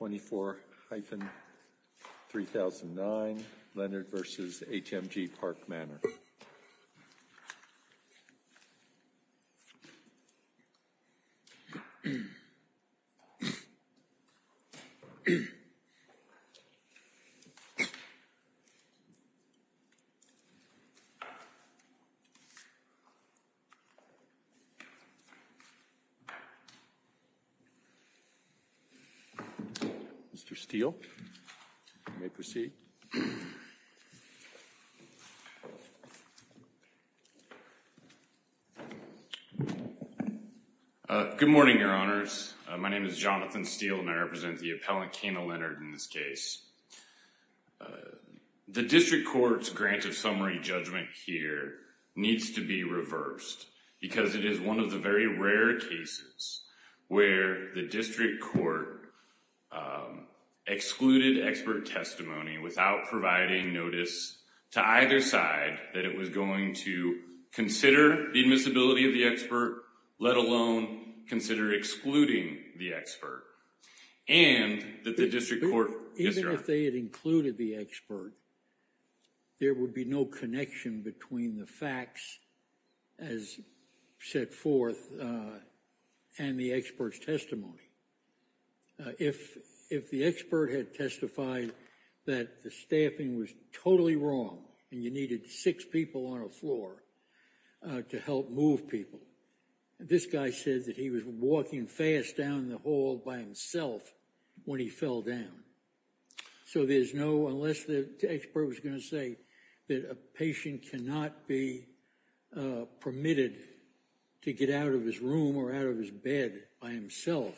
24-3009 Leonard v. HMG Park Manor. Mr. Steele, you may proceed. Good morning, Your Honors. My name is Jonathan Steele, and I represent the appellant, Kena Leonard, in this case. The District Court's grant of summary judgment here needs to be reversed, because it is one of the very rare cases where the District Court excluded expert testimony without providing notice to either side that it was going to consider the admissibility of the expert, let alone consider excluding the expert, and that the District Court... Even if they had included the expert, there would be no connection between the facts as set forth and the expert's testimony. If the expert had testified that the staffing was totally wrong and you needed six people on a floor to help move people, this guy said that he was walking fast down the hall by himself when he fell down. So there's no... Unless the expert was going to say that a patient cannot be permitted to get out of his room or out of his bed by himself,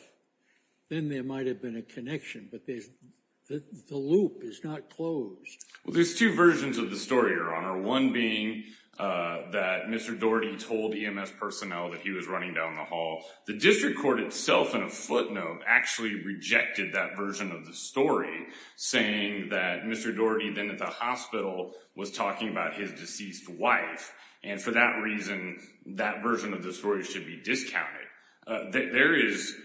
then there might have been a connection, but the loop is not closed. Well, there's two versions of the story, Your Honor, one being that Mr. Doherty told EMS personnel that he was running down the hall. The District Court itself, in a footnote, actually rejected that version of the story, saying that Mr. Doherty then at the hospital was talking about his deceased wife, and for that reason, that version of the story should be discounted. There is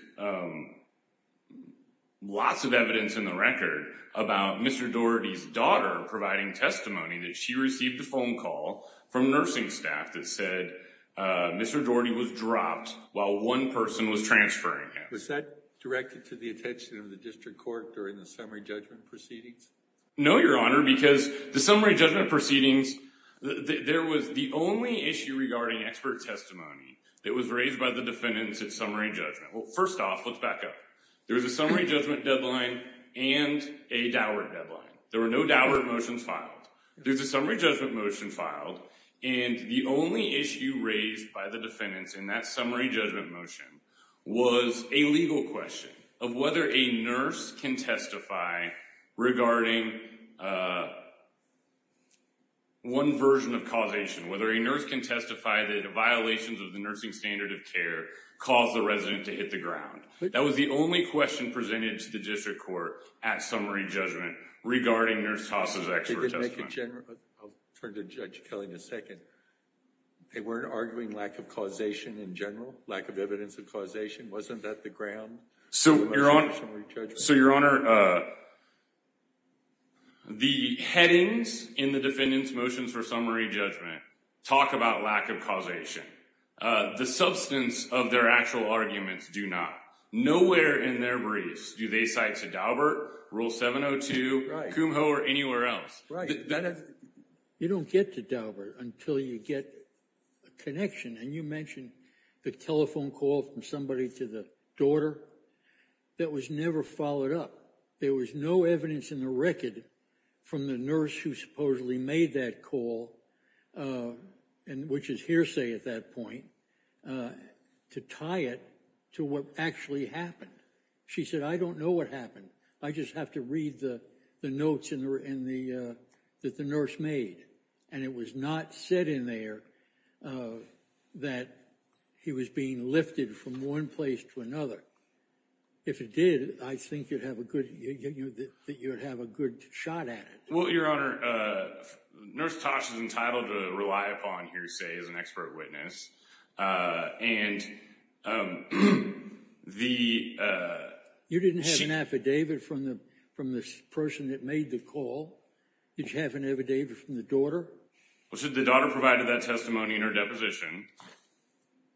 lots of evidence in the record about Mr. Doherty's daughter providing testimony, that she received a phone call from nursing staff that said Mr. Doherty was dropped while one person was transferring him. Was that directed to the attention of the District Court during the summary judgment proceedings? No, Your Honor, because the summary judgment proceedings, there was the only issue regarding expert testimony that was raised by the defendants at summary judgment. Well, first off, let's back up. There was a summary judgment deadline and a Dowert deadline. There were no Dowert motions filed. There's a summary judgment motion filed, and the only issue raised by the defendants in that summary judgment motion was a legal question of whether a nurse can testify regarding one version of causation, whether a nurse can testify that the violations of the nursing standard of care caused the resident to hit the ground. That was the only question presented to the District Court at summary judgment regarding nurse TASA's expert testimony. I'll turn to Judge Kelly in a second. They weren't arguing lack of causation in general, lack of evidence of causation? Wasn't that the ground? So, Your Honor, the headings in the defendants' motions for summary judgment talk about lack of causation. The substance of their actual arguments do not. Nowhere in their briefs do they cite to Dowert, Rule 702, Kumho, or anywhere else. You don't get to Dowert until you get a connection, and you mentioned the telephone call from somebody to the daughter. That was never followed up. There was no evidence in the record from the nurse who supposedly made that call, which is hearsay at that point, to tie it to what actually happened. She said, I don't know what happened. I just have to read the notes that the nurse made, and it was not said in there that he was being lifted from one place to another. If it did, I think you'd have a good shot at it. Well, Your Honor, Nurse Tosh is entitled to rely upon hearsay as an expert witness, and the— You didn't have an affidavit from the person that made the call? Did you have an affidavit from the daughter? Well, the daughter provided that testimony in her deposition,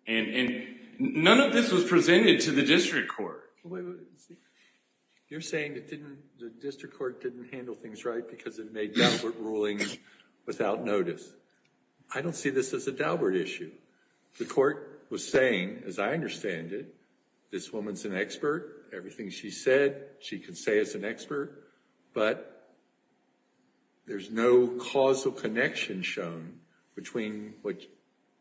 and none of this was presented to the district court. You're saying the district court didn't handle things right because it made Dowert rulings without notice. I don't see this as a Dowert issue. The court was saying, as I understand it, this woman's an expert. Everything she said, she can say as an expert, but there's no causal connection shown between what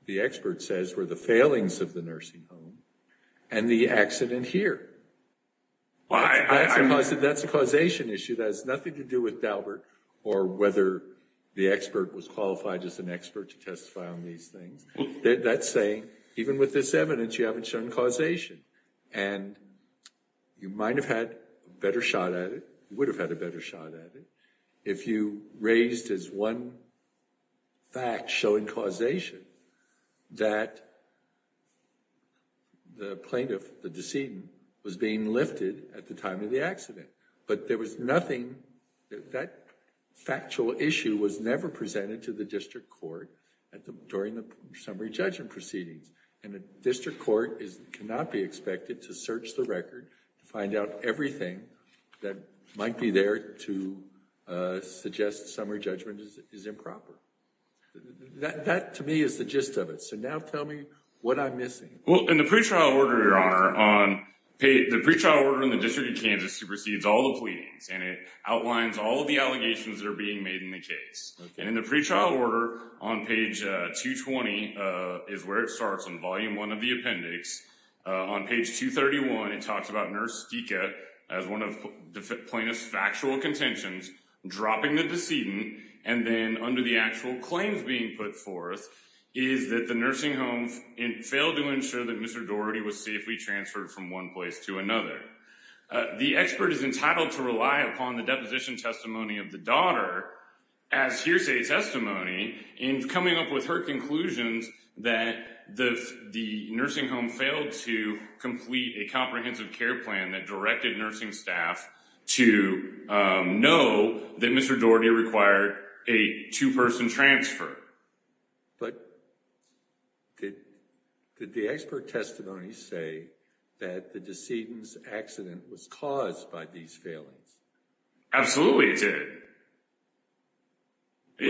the expert says were the failings of the nursing home and the accident here. That's a causation issue that has nothing to do with Dowert or whether the expert was qualified as an expert to testify on these things. That's saying, even with this evidence, you haven't shown causation. And you might have had a better shot at it, would have had a better shot at it, if you raised as one fact showing causation that the plaintiff, the decedent, was being lifted at the time of the accident. But there was nothing—that factual issue was never presented to the district court during the summary judgment proceedings. And the district court cannot be expected to search the record to find out everything that might be there to suggest summary judgment is improper. That, to me, is the gist of it. So now tell me what I'm missing. Well, in the pretrial order, Your Honor, the pretrial order in the District of Kansas supersedes all the pleadings. And it outlines all of the allegations that are being made in the case. And in the pretrial order on page 220 is where it starts in volume one of the appendix. On page 231, it talks about Nurse Dika as one of the plaintiff's factual contentions, dropping the decedent, and then under the actual claims being put forth is that the nursing home failed to ensure that Mr. Dowerty was safely transferred from one place to another. The expert is entitled to rely upon the deposition testimony of the daughter as hearsay testimony in coming up with her conclusions that the nursing home failed to complete a comprehensive care plan that directed nursing staff to know that Mr. Dowerty required a two-person transfer. But did the expert testimony say that the decedent's accident was caused by these failings? Absolutely it did.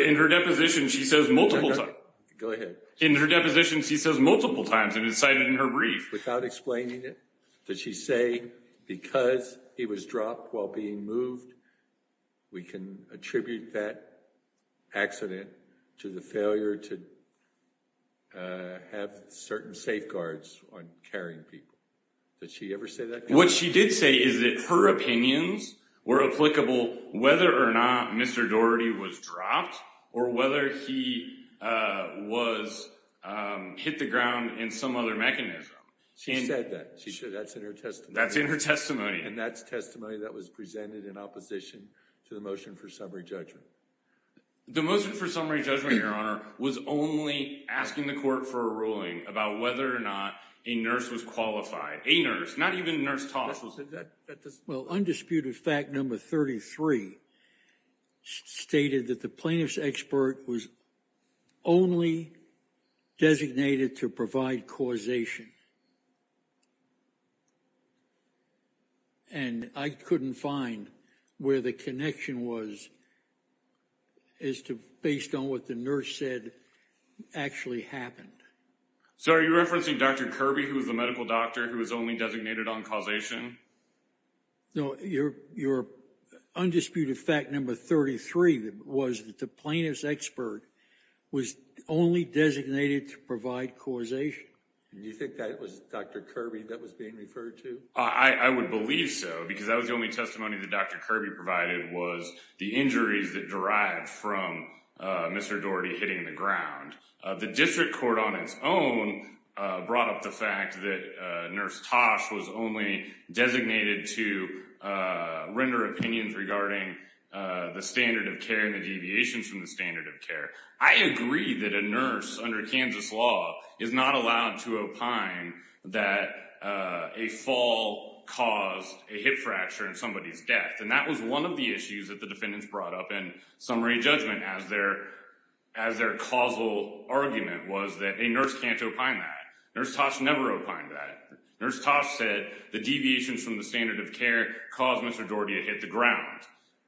In her deposition, she says multiple times. Go ahead. In her deposition, she says multiple times, and it's cited in her brief. Without explaining it, does she say because he was dropped while being moved, we can attribute that accident to the failure to have certain safeguards on carrying people? Did she ever say that? What she did say is that her opinions were applicable whether or not Mr. Dowerty was dropped or whether he was hit the ground in some other mechanism. She said that. That's in her testimony. That's in her testimony. And that's testimony that was presented in opposition to the motion for summary judgment. The motion for summary judgment, Your Honor, was only asking the court for a ruling about whether or not a nurse was qualified. A nurse, not even nurse talk. Well, undisputed fact number 33 stated that the plaintiff's expert was only designated to provide causation. And I couldn't find where the connection was as to based on what the nurse said actually happened. So are you referencing Dr. Kirby, who was the medical doctor who was only designated on causation? No. Your undisputed fact number 33 was that the plaintiff's expert was only designated to provide causation. Do you think that was Dr. Kirby that was being referred to? I would believe so because that was the only testimony that Dr. Kirby provided was the injuries that derived from Mr. Dowerty hitting the ground. The district court on its own brought up the fact that Nurse Tosh was only designated to render opinions regarding the standard of care and the deviations from the standard of care. I agree that a nurse under Kansas law is not allowed to opine that a fall caused a hip fracture in somebody's death. And that was one of the issues that the defendants brought up in summary judgment as their causal argument was that a nurse can't opine that. Nurse Tosh never opined that. Nurse Tosh said the deviations from the standard of care caused Mr. Dowerty to hit the ground.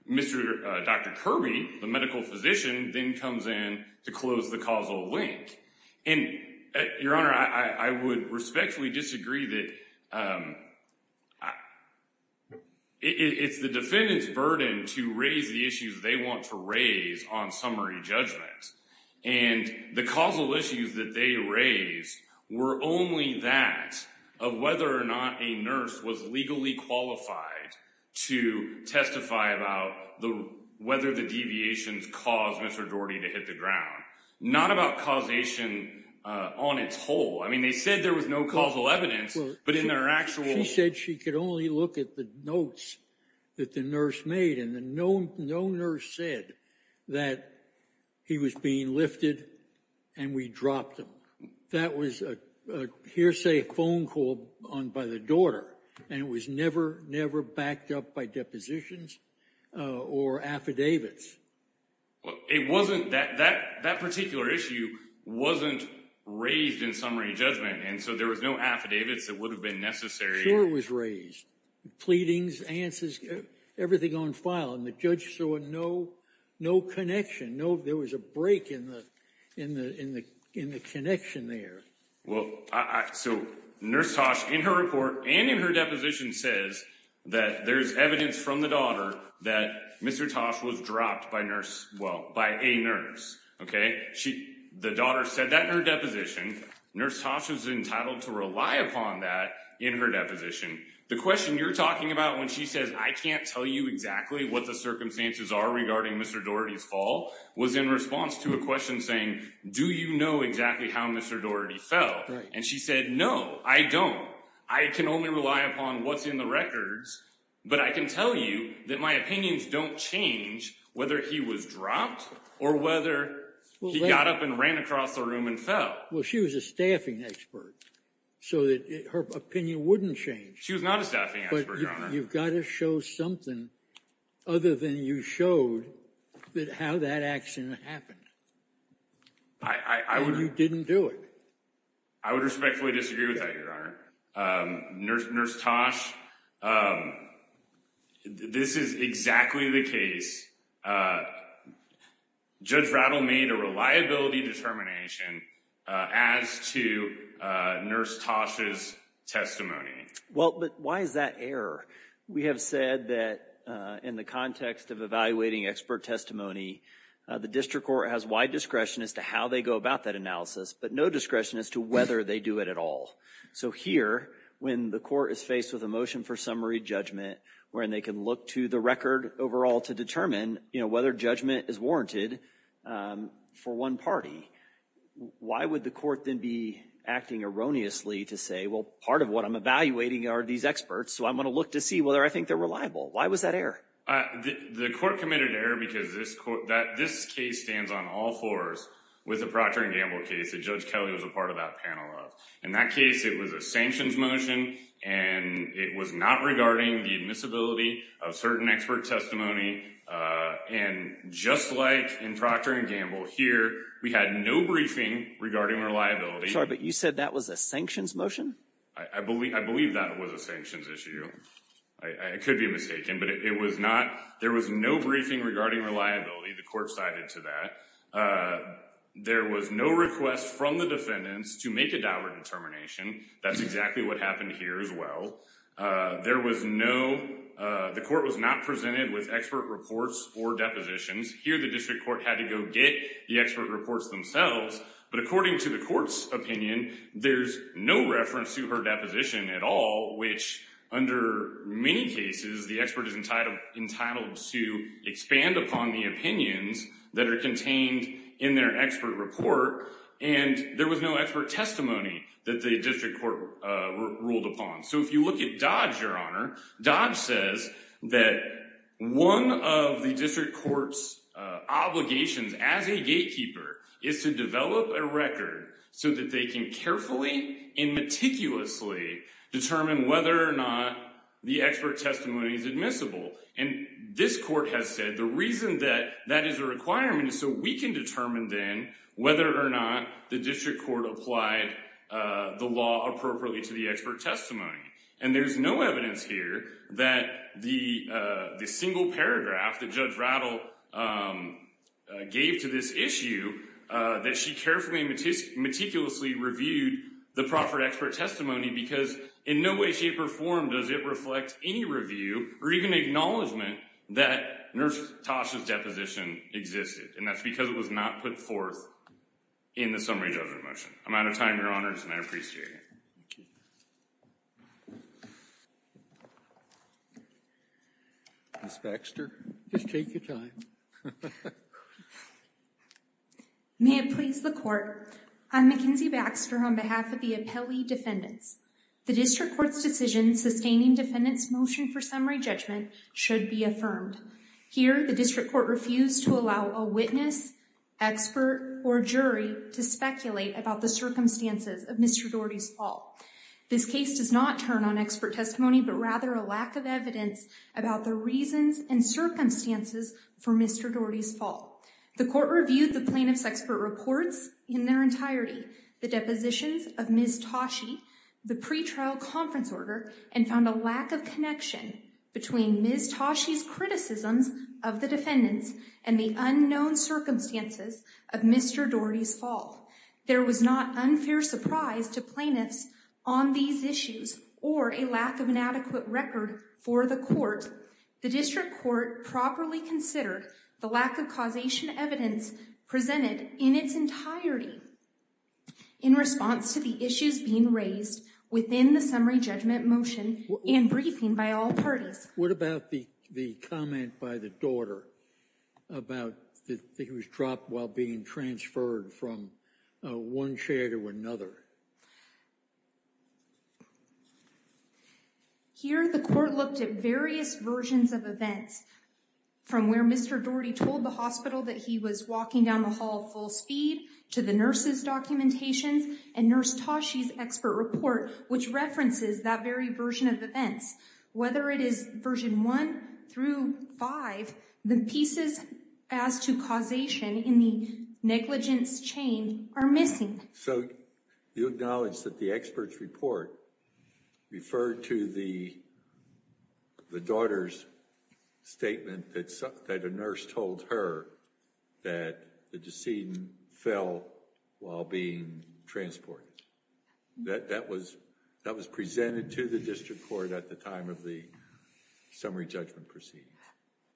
Dr. Kirby, the medical physician, then comes in to close the causal link. Your Honor, I would respectfully disagree that it's the defendant's burden to raise the issues they want to raise on summary judgment. And the causal issues that they raised were only that of whether or not a nurse was legally qualified to testify about whether the deviations caused Mr. Dowerty to hit the ground. Not about causation on its whole. I mean, they said there was no causal evidence, but in their actual... She said she could only look at the notes that the nurse made, and no nurse said that he was being lifted and we dropped him. That was a hearsay phone call by the daughter, and it was never, never backed up by depositions or affidavits. It wasn't... That particular issue wasn't raised in summary judgment, and so there was no affidavits that would have been necessary. Sure it was raised. Pleadings, answers, everything on file, and the judge saw no connection. There was a break in the connection there. So Nurse Tosh, in her report and in her deposition, says that there's evidence from the daughter that Mr. Tosh was dropped by a nurse. The daughter said that in her deposition. Nurse Tosh was entitled to rely upon that in her deposition. The question you're talking about when she says, I can't tell you exactly what the circumstances are regarding Mr. Doherty's fall, was in response to a question saying, do you know exactly how Mr. Doherty fell? And she said, no, I don't. I can only rely upon what's in the records, but I can tell you that my opinions don't change whether he was dropped or whether he got up and ran across the room and fell. Well, she was a staffing expert, so her opinion wouldn't change. She was not a staffing expert, Your Honor. But you've got to show something other than you showed how that accident happened. Or you didn't do it. I would respectfully disagree with that, Your Honor. Nurse Tosh, this is exactly the case. Judge Rattle made a reliability determination as to Nurse Tosh's testimony. Well, but why is that error? We have said that in the context of evaluating expert testimony, the district court has wide discretion as to how they go about that analysis, but no discretion as to whether they do it at all. So here, when the court is faced with a motion for summary judgment, wherein they can look to the record overall to determine whether judgment is warranted for one party, why would the court then be acting erroneously to say, well, part of what I'm evaluating are these experts, so I'm going to look to see whether I think they're reliable? Why was that error? The court committed error because this case stands on all fours with the Procter & Gamble case that Judge Kelly was a part of that panel of. In that case, it was a sanctions motion, and it was not regarding the admissibility of certain expert testimony. And just like in Procter & Gamble here, we had no briefing regarding reliability. Sorry, but you said that was a sanctions motion? I believe that was a sanctions issue. I could be mistaken, but it was not. There was no briefing regarding reliability. The court sided to that. There was no request from the defendants to make a double determination. That's exactly what happened here as well. There was no—the court was not presented with expert reports or depositions. Here, the district court had to go get the expert reports themselves. But according to the court's opinion, there's no reference to her deposition at all, which under many cases, the expert is entitled to expand upon the opinions that are contained in their expert report. And there was no expert testimony that the district court ruled upon. So if you look at Dodge, Your Honor, Dodge says that one of the district court's obligations as a gatekeeper is to develop a record so that they can carefully and meticulously determine whether or not the expert testimony is admissible. And this court has said the reason that that is a requirement is so we can determine then whether or not the district court applied the law appropriately to the expert testimony. And there's no evidence here that the single paragraph that Judge Rattle gave to this issue, that she carefully and meticulously reviewed the proffered expert testimony because in no way, shape, or form does it reflect any review or even acknowledgement that Nurse Tasha's deposition existed. And that's because it was not put forth in the summary judgment motion. I'm out of time, Your Honors, and I appreciate it. Ms. Baxter, just take your time. May it please the court, I'm McKenzie Baxter on behalf of the appellee defendants. The district court's decision sustaining defendant's motion for summary judgment should be affirmed. Here, the district court refused to allow a witness, expert, or jury to speculate about the circumstances of Mr. Doherty's fall. This case does not turn on expert testimony, but rather a lack of evidence about the reasons and circumstances for Mr. Doherty's fall. The court reviewed the plaintiff's expert reports in their entirety, the depositions of Ms. Tashi, the pretrial conference order, and found a lack of connection between Ms. Tashi's criticisms of the defendants and the unknown circumstances of Mr. Doherty's fall. There was not unfair surprise to plaintiffs on these issues or a lack of an adequate record for the court. The district court properly considered the lack of causation evidence presented in its entirety in response to the issues being raised within the summary judgment motion and briefing by all parties. What about the comment by the daughter about that he was dropped while being transferred from one chair to another? Here, the court looked at various versions of events, from where Mr. Doherty told the hospital that he was walking down the hall full speed to the nurse's documentation and Nurse Tashi's expert report, which references that very version of events. Whether it is version one through five, the pieces as to causation in the negligence chain are missing. So you acknowledge that the expert's report referred to the daughter's statement that a nurse told her that the decedent fell while being transported. That was presented to the district court at the time of the summary judgment proceeding.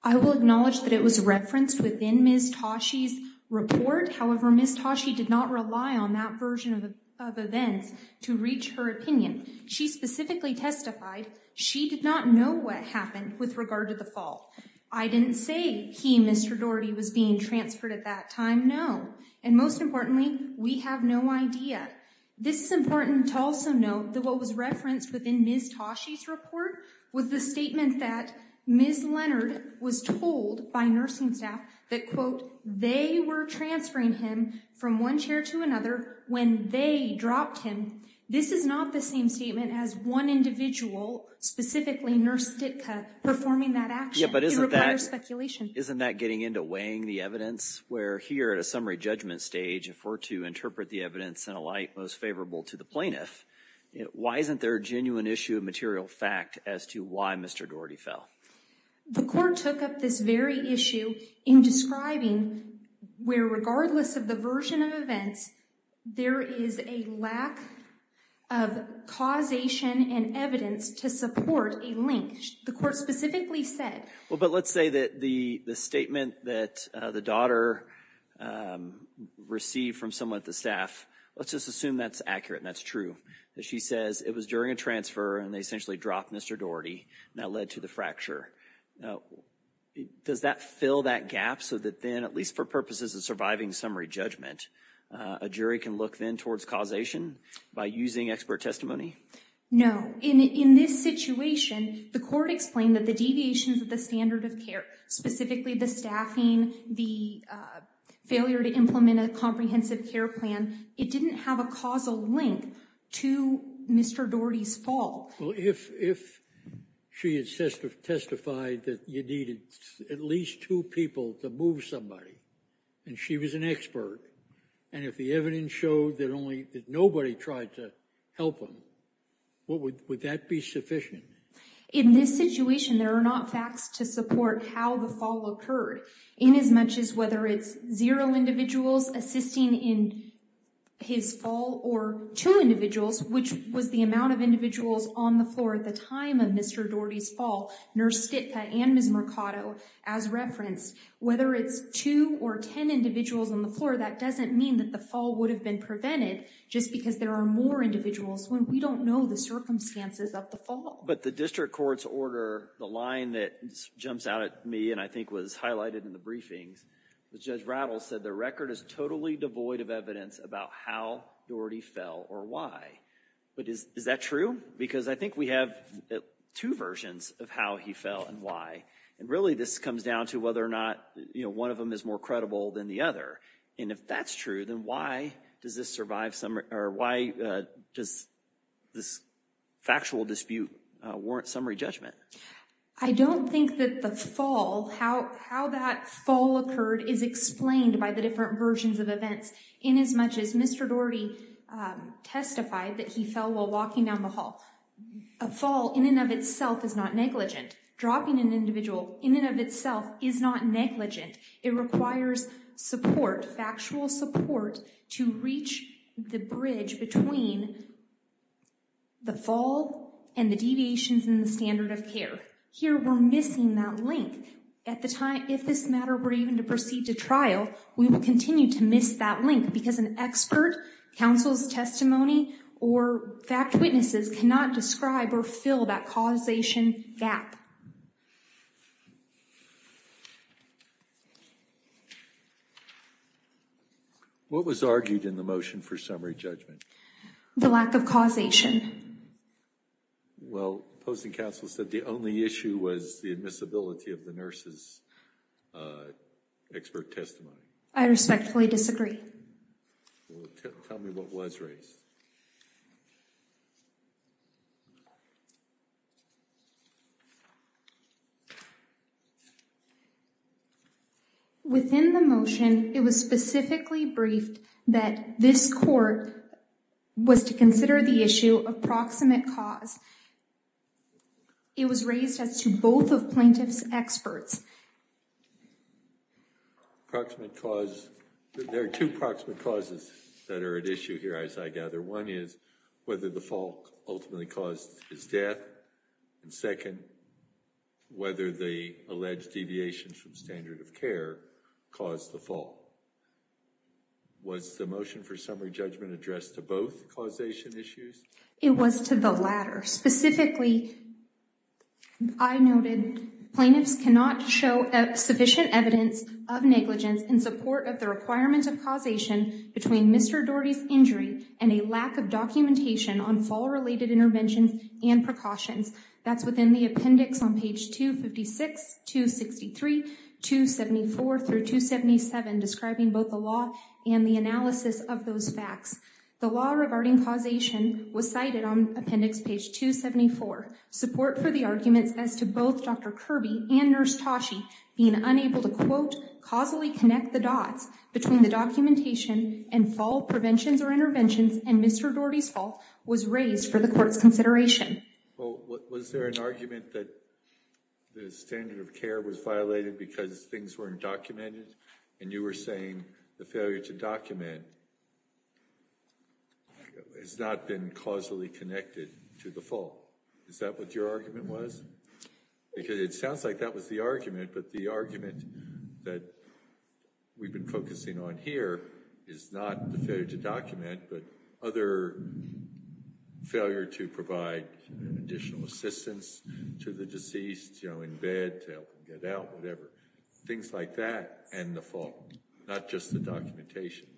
I will acknowledge that it was referenced within Ms. Tashi's report. However, Ms. Tashi did not rely on that version of events to reach her opinion. She specifically testified she did not know what happened with regard to the fall. I didn't say he, Mr. Doherty, was being transferred at that time. No. And most importantly, we have no idea. This is important to also note that what was referenced within Ms. Tashi's report was the statement that Ms. Leonard was told by nursing staff that, quote, they were transferring him from one chair to another when they dropped him. This is not the same statement as one individual, specifically Nurse Ditka, performing that action. It requires speculation. Isn't that getting into weighing the evidence where here at a summary judgment stage, if we're to interpret the evidence in a light most favorable to the plaintiff, why isn't there a genuine issue of material fact as to why Mr. Doherty fell? The court took up this very issue in describing where, regardless of the version of events, there is a lack of causation and evidence to support a link. And the court specifically said. Well, but let's say that the statement that the daughter received from someone at the staff, let's just assume that's accurate and that's true. She says it was during a transfer and they essentially dropped Mr. Doherty and that led to the fracture. Does that fill that gap so that then, at least for purposes of surviving summary judgment, a jury can look then towards causation by using expert testimony? No. In this situation, the court explained that the deviations of the standard of care, specifically the staffing, the failure to implement a comprehensive care plan, it didn't have a causal link to Mr. Doherty's fall. Well, if she had testified that you needed at least two people to move somebody and she was an expert and if the evidence showed that nobody tried to help him, would that be sufficient? In this situation, there are not facts to support how the fall occurred in as much as whether it's zero individuals assisting in his fall or two individuals, which was the amount of individuals on the floor at the time of Mr. Doherty's fall. Nurse Skitka and Ms. Mercado as referenced, whether it's two or ten individuals on the floor, that doesn't mean that the fall would have been prevented just because there are more individuals when we don't know the circumstances of the fall. But the district court's order, the line that jumps out at me and I think was highlighted in the briefings, Judge Rattles said the record is totally devoid of evidence about how Doherty fell or why. But is that true? Because I think we have two versions of how he fell and why. And really this comes down to whether or not one of them is more credible than the other. And if that's true, then why does this factual dispute warrant summary judgment? I don't think that the fall, how that fall occurred is explained by the different versions of events in as much as Mr. Doherty testified that he fell while walking down the hall. A fall in and of itself is not negligent. Dropping an individual in and of itself is not negligent. It requires support, factual support, to reach the bridge between the fall and the deviations in the standard of care. Here we're missing that link. At the time, if this matter were even to proceed to trial, we would continue to miss that link because an expert, counsel's testimony, or fact witnesses cannot describe or fill that causation gap. What was argued in the motion for summary judgment? The lack of causation. Well, opposing counsel said the only issue was the admissibility of the nurse's expert testimony. I respectfully disagree. Tell me what was raised. Within the motion, it was specifically briefed that this court was to consider the issue of proximate cause. It was raised as to both of plaintiffs' experts. There are two proximate causes that are at issue here, as I gather. One is whether the fall ultimately caused his death. And second, whether the alleged deviations from standard of care caused the fall. Was the motion for summary judgment addressed to both causation issues? It was to the latter. Specifically, I noted, plaintiffs cannot show sufficient evidence of negligence in support of the requirement of causation between Mr. Doherty's injury and a lack of documentation on fall-related interventions and precautions. That's within the appendix on page 256-263, 274-277, describing both the law and the analysis of those facts. The law regarding causation was cited on appendix page 274. Support for the arguments as to both Dr. Kirby and Nurse Tosche being unable to, quote, causally connect the dots between the documentation and fall preventions or interventions and Mr. Doherty's fall was raised for the court's consideration. Was there an argument that the standard of care was violated because things weren't documented? And you were saying the failure to document has not been causally connected to the fall. Is that what your argument was? Because it sounds like that was the argument, but the argument that we've been focusing on here is not the failure to document, but other failure to provide additional assistance to the deceased, you know, in bed, to help them get out, whatever. Things like that and the fall, not just the documentation.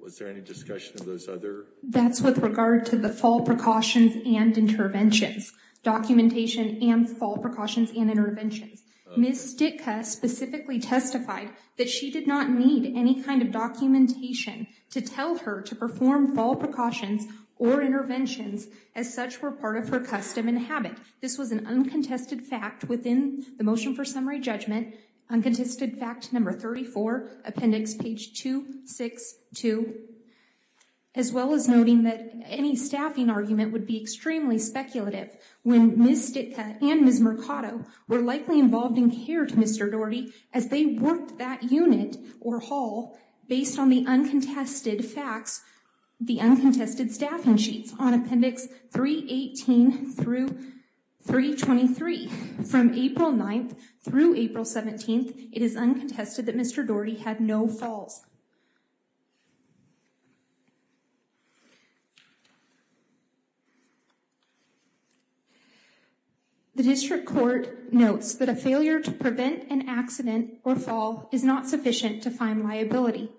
Was there any discussion of those other? That's with regard to the fall precautions and interventions. Documentation and fall precautions and interventions. Ms. Ditka specifically testified that she did not need any kind of documentation to tell her to perform fall precautions or interventions as such were part of her custom and habit. This was an uncontested fact within the motion for summary judgment. Uncontested fact number 34, appendix page 262. As well as noting that any staffing argument would be extremely speculative. When Ms. Ditka and Ms. Mercado were likely involved in care to Mr. Daugherty as they worked that unit or hall based on the uncontested facts, the uncontested staffing sheets on appendix 318 through 323 from April 9th through April 17th, it is uncontested that Mr. Daugherty had no falls. The district court notes that a failure to prevent an accident or fall is not sufficient to find liability.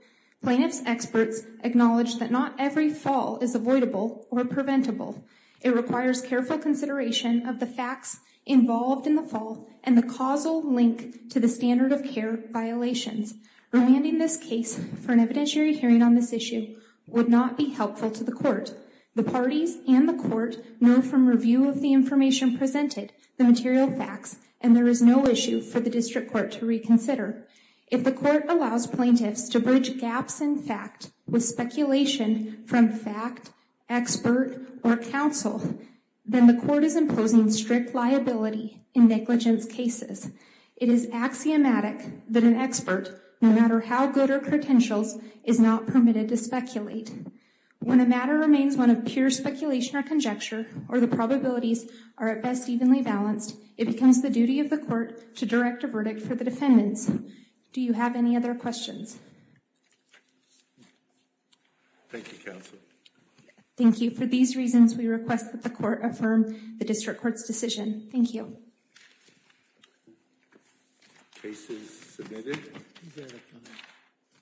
Plaintiffs experts acknowledge that not every fall is avoidable or preventable. It requires careful consideration of the facts involved in the fall and the causal link to the standard of care violations. Remanding this case for an evidentiary hearing on this issue would not be helpful to the court. The parties and the court know from review of the information presented, the material facts, and there is no issue for the district court to reconsider. If the court allows plaintiffs to bridge gaps in fact with speculation from fact, expert, or counsel, then the court is imposing strict liability in negligence cases. It is axiomatic that an expert, no matter how good her credentials, is not permitted to speculate. When a matter remains one of pure speculation or conjecture, or the probabilities are at best evenly balanced, it becomes the duty of the court to direct a verdict for the defendants. Do you have any other questions? Thank you, counsel. Thank you. For these reasons, we request that the court affirm the district court's decision. Thank you. Case is submitted.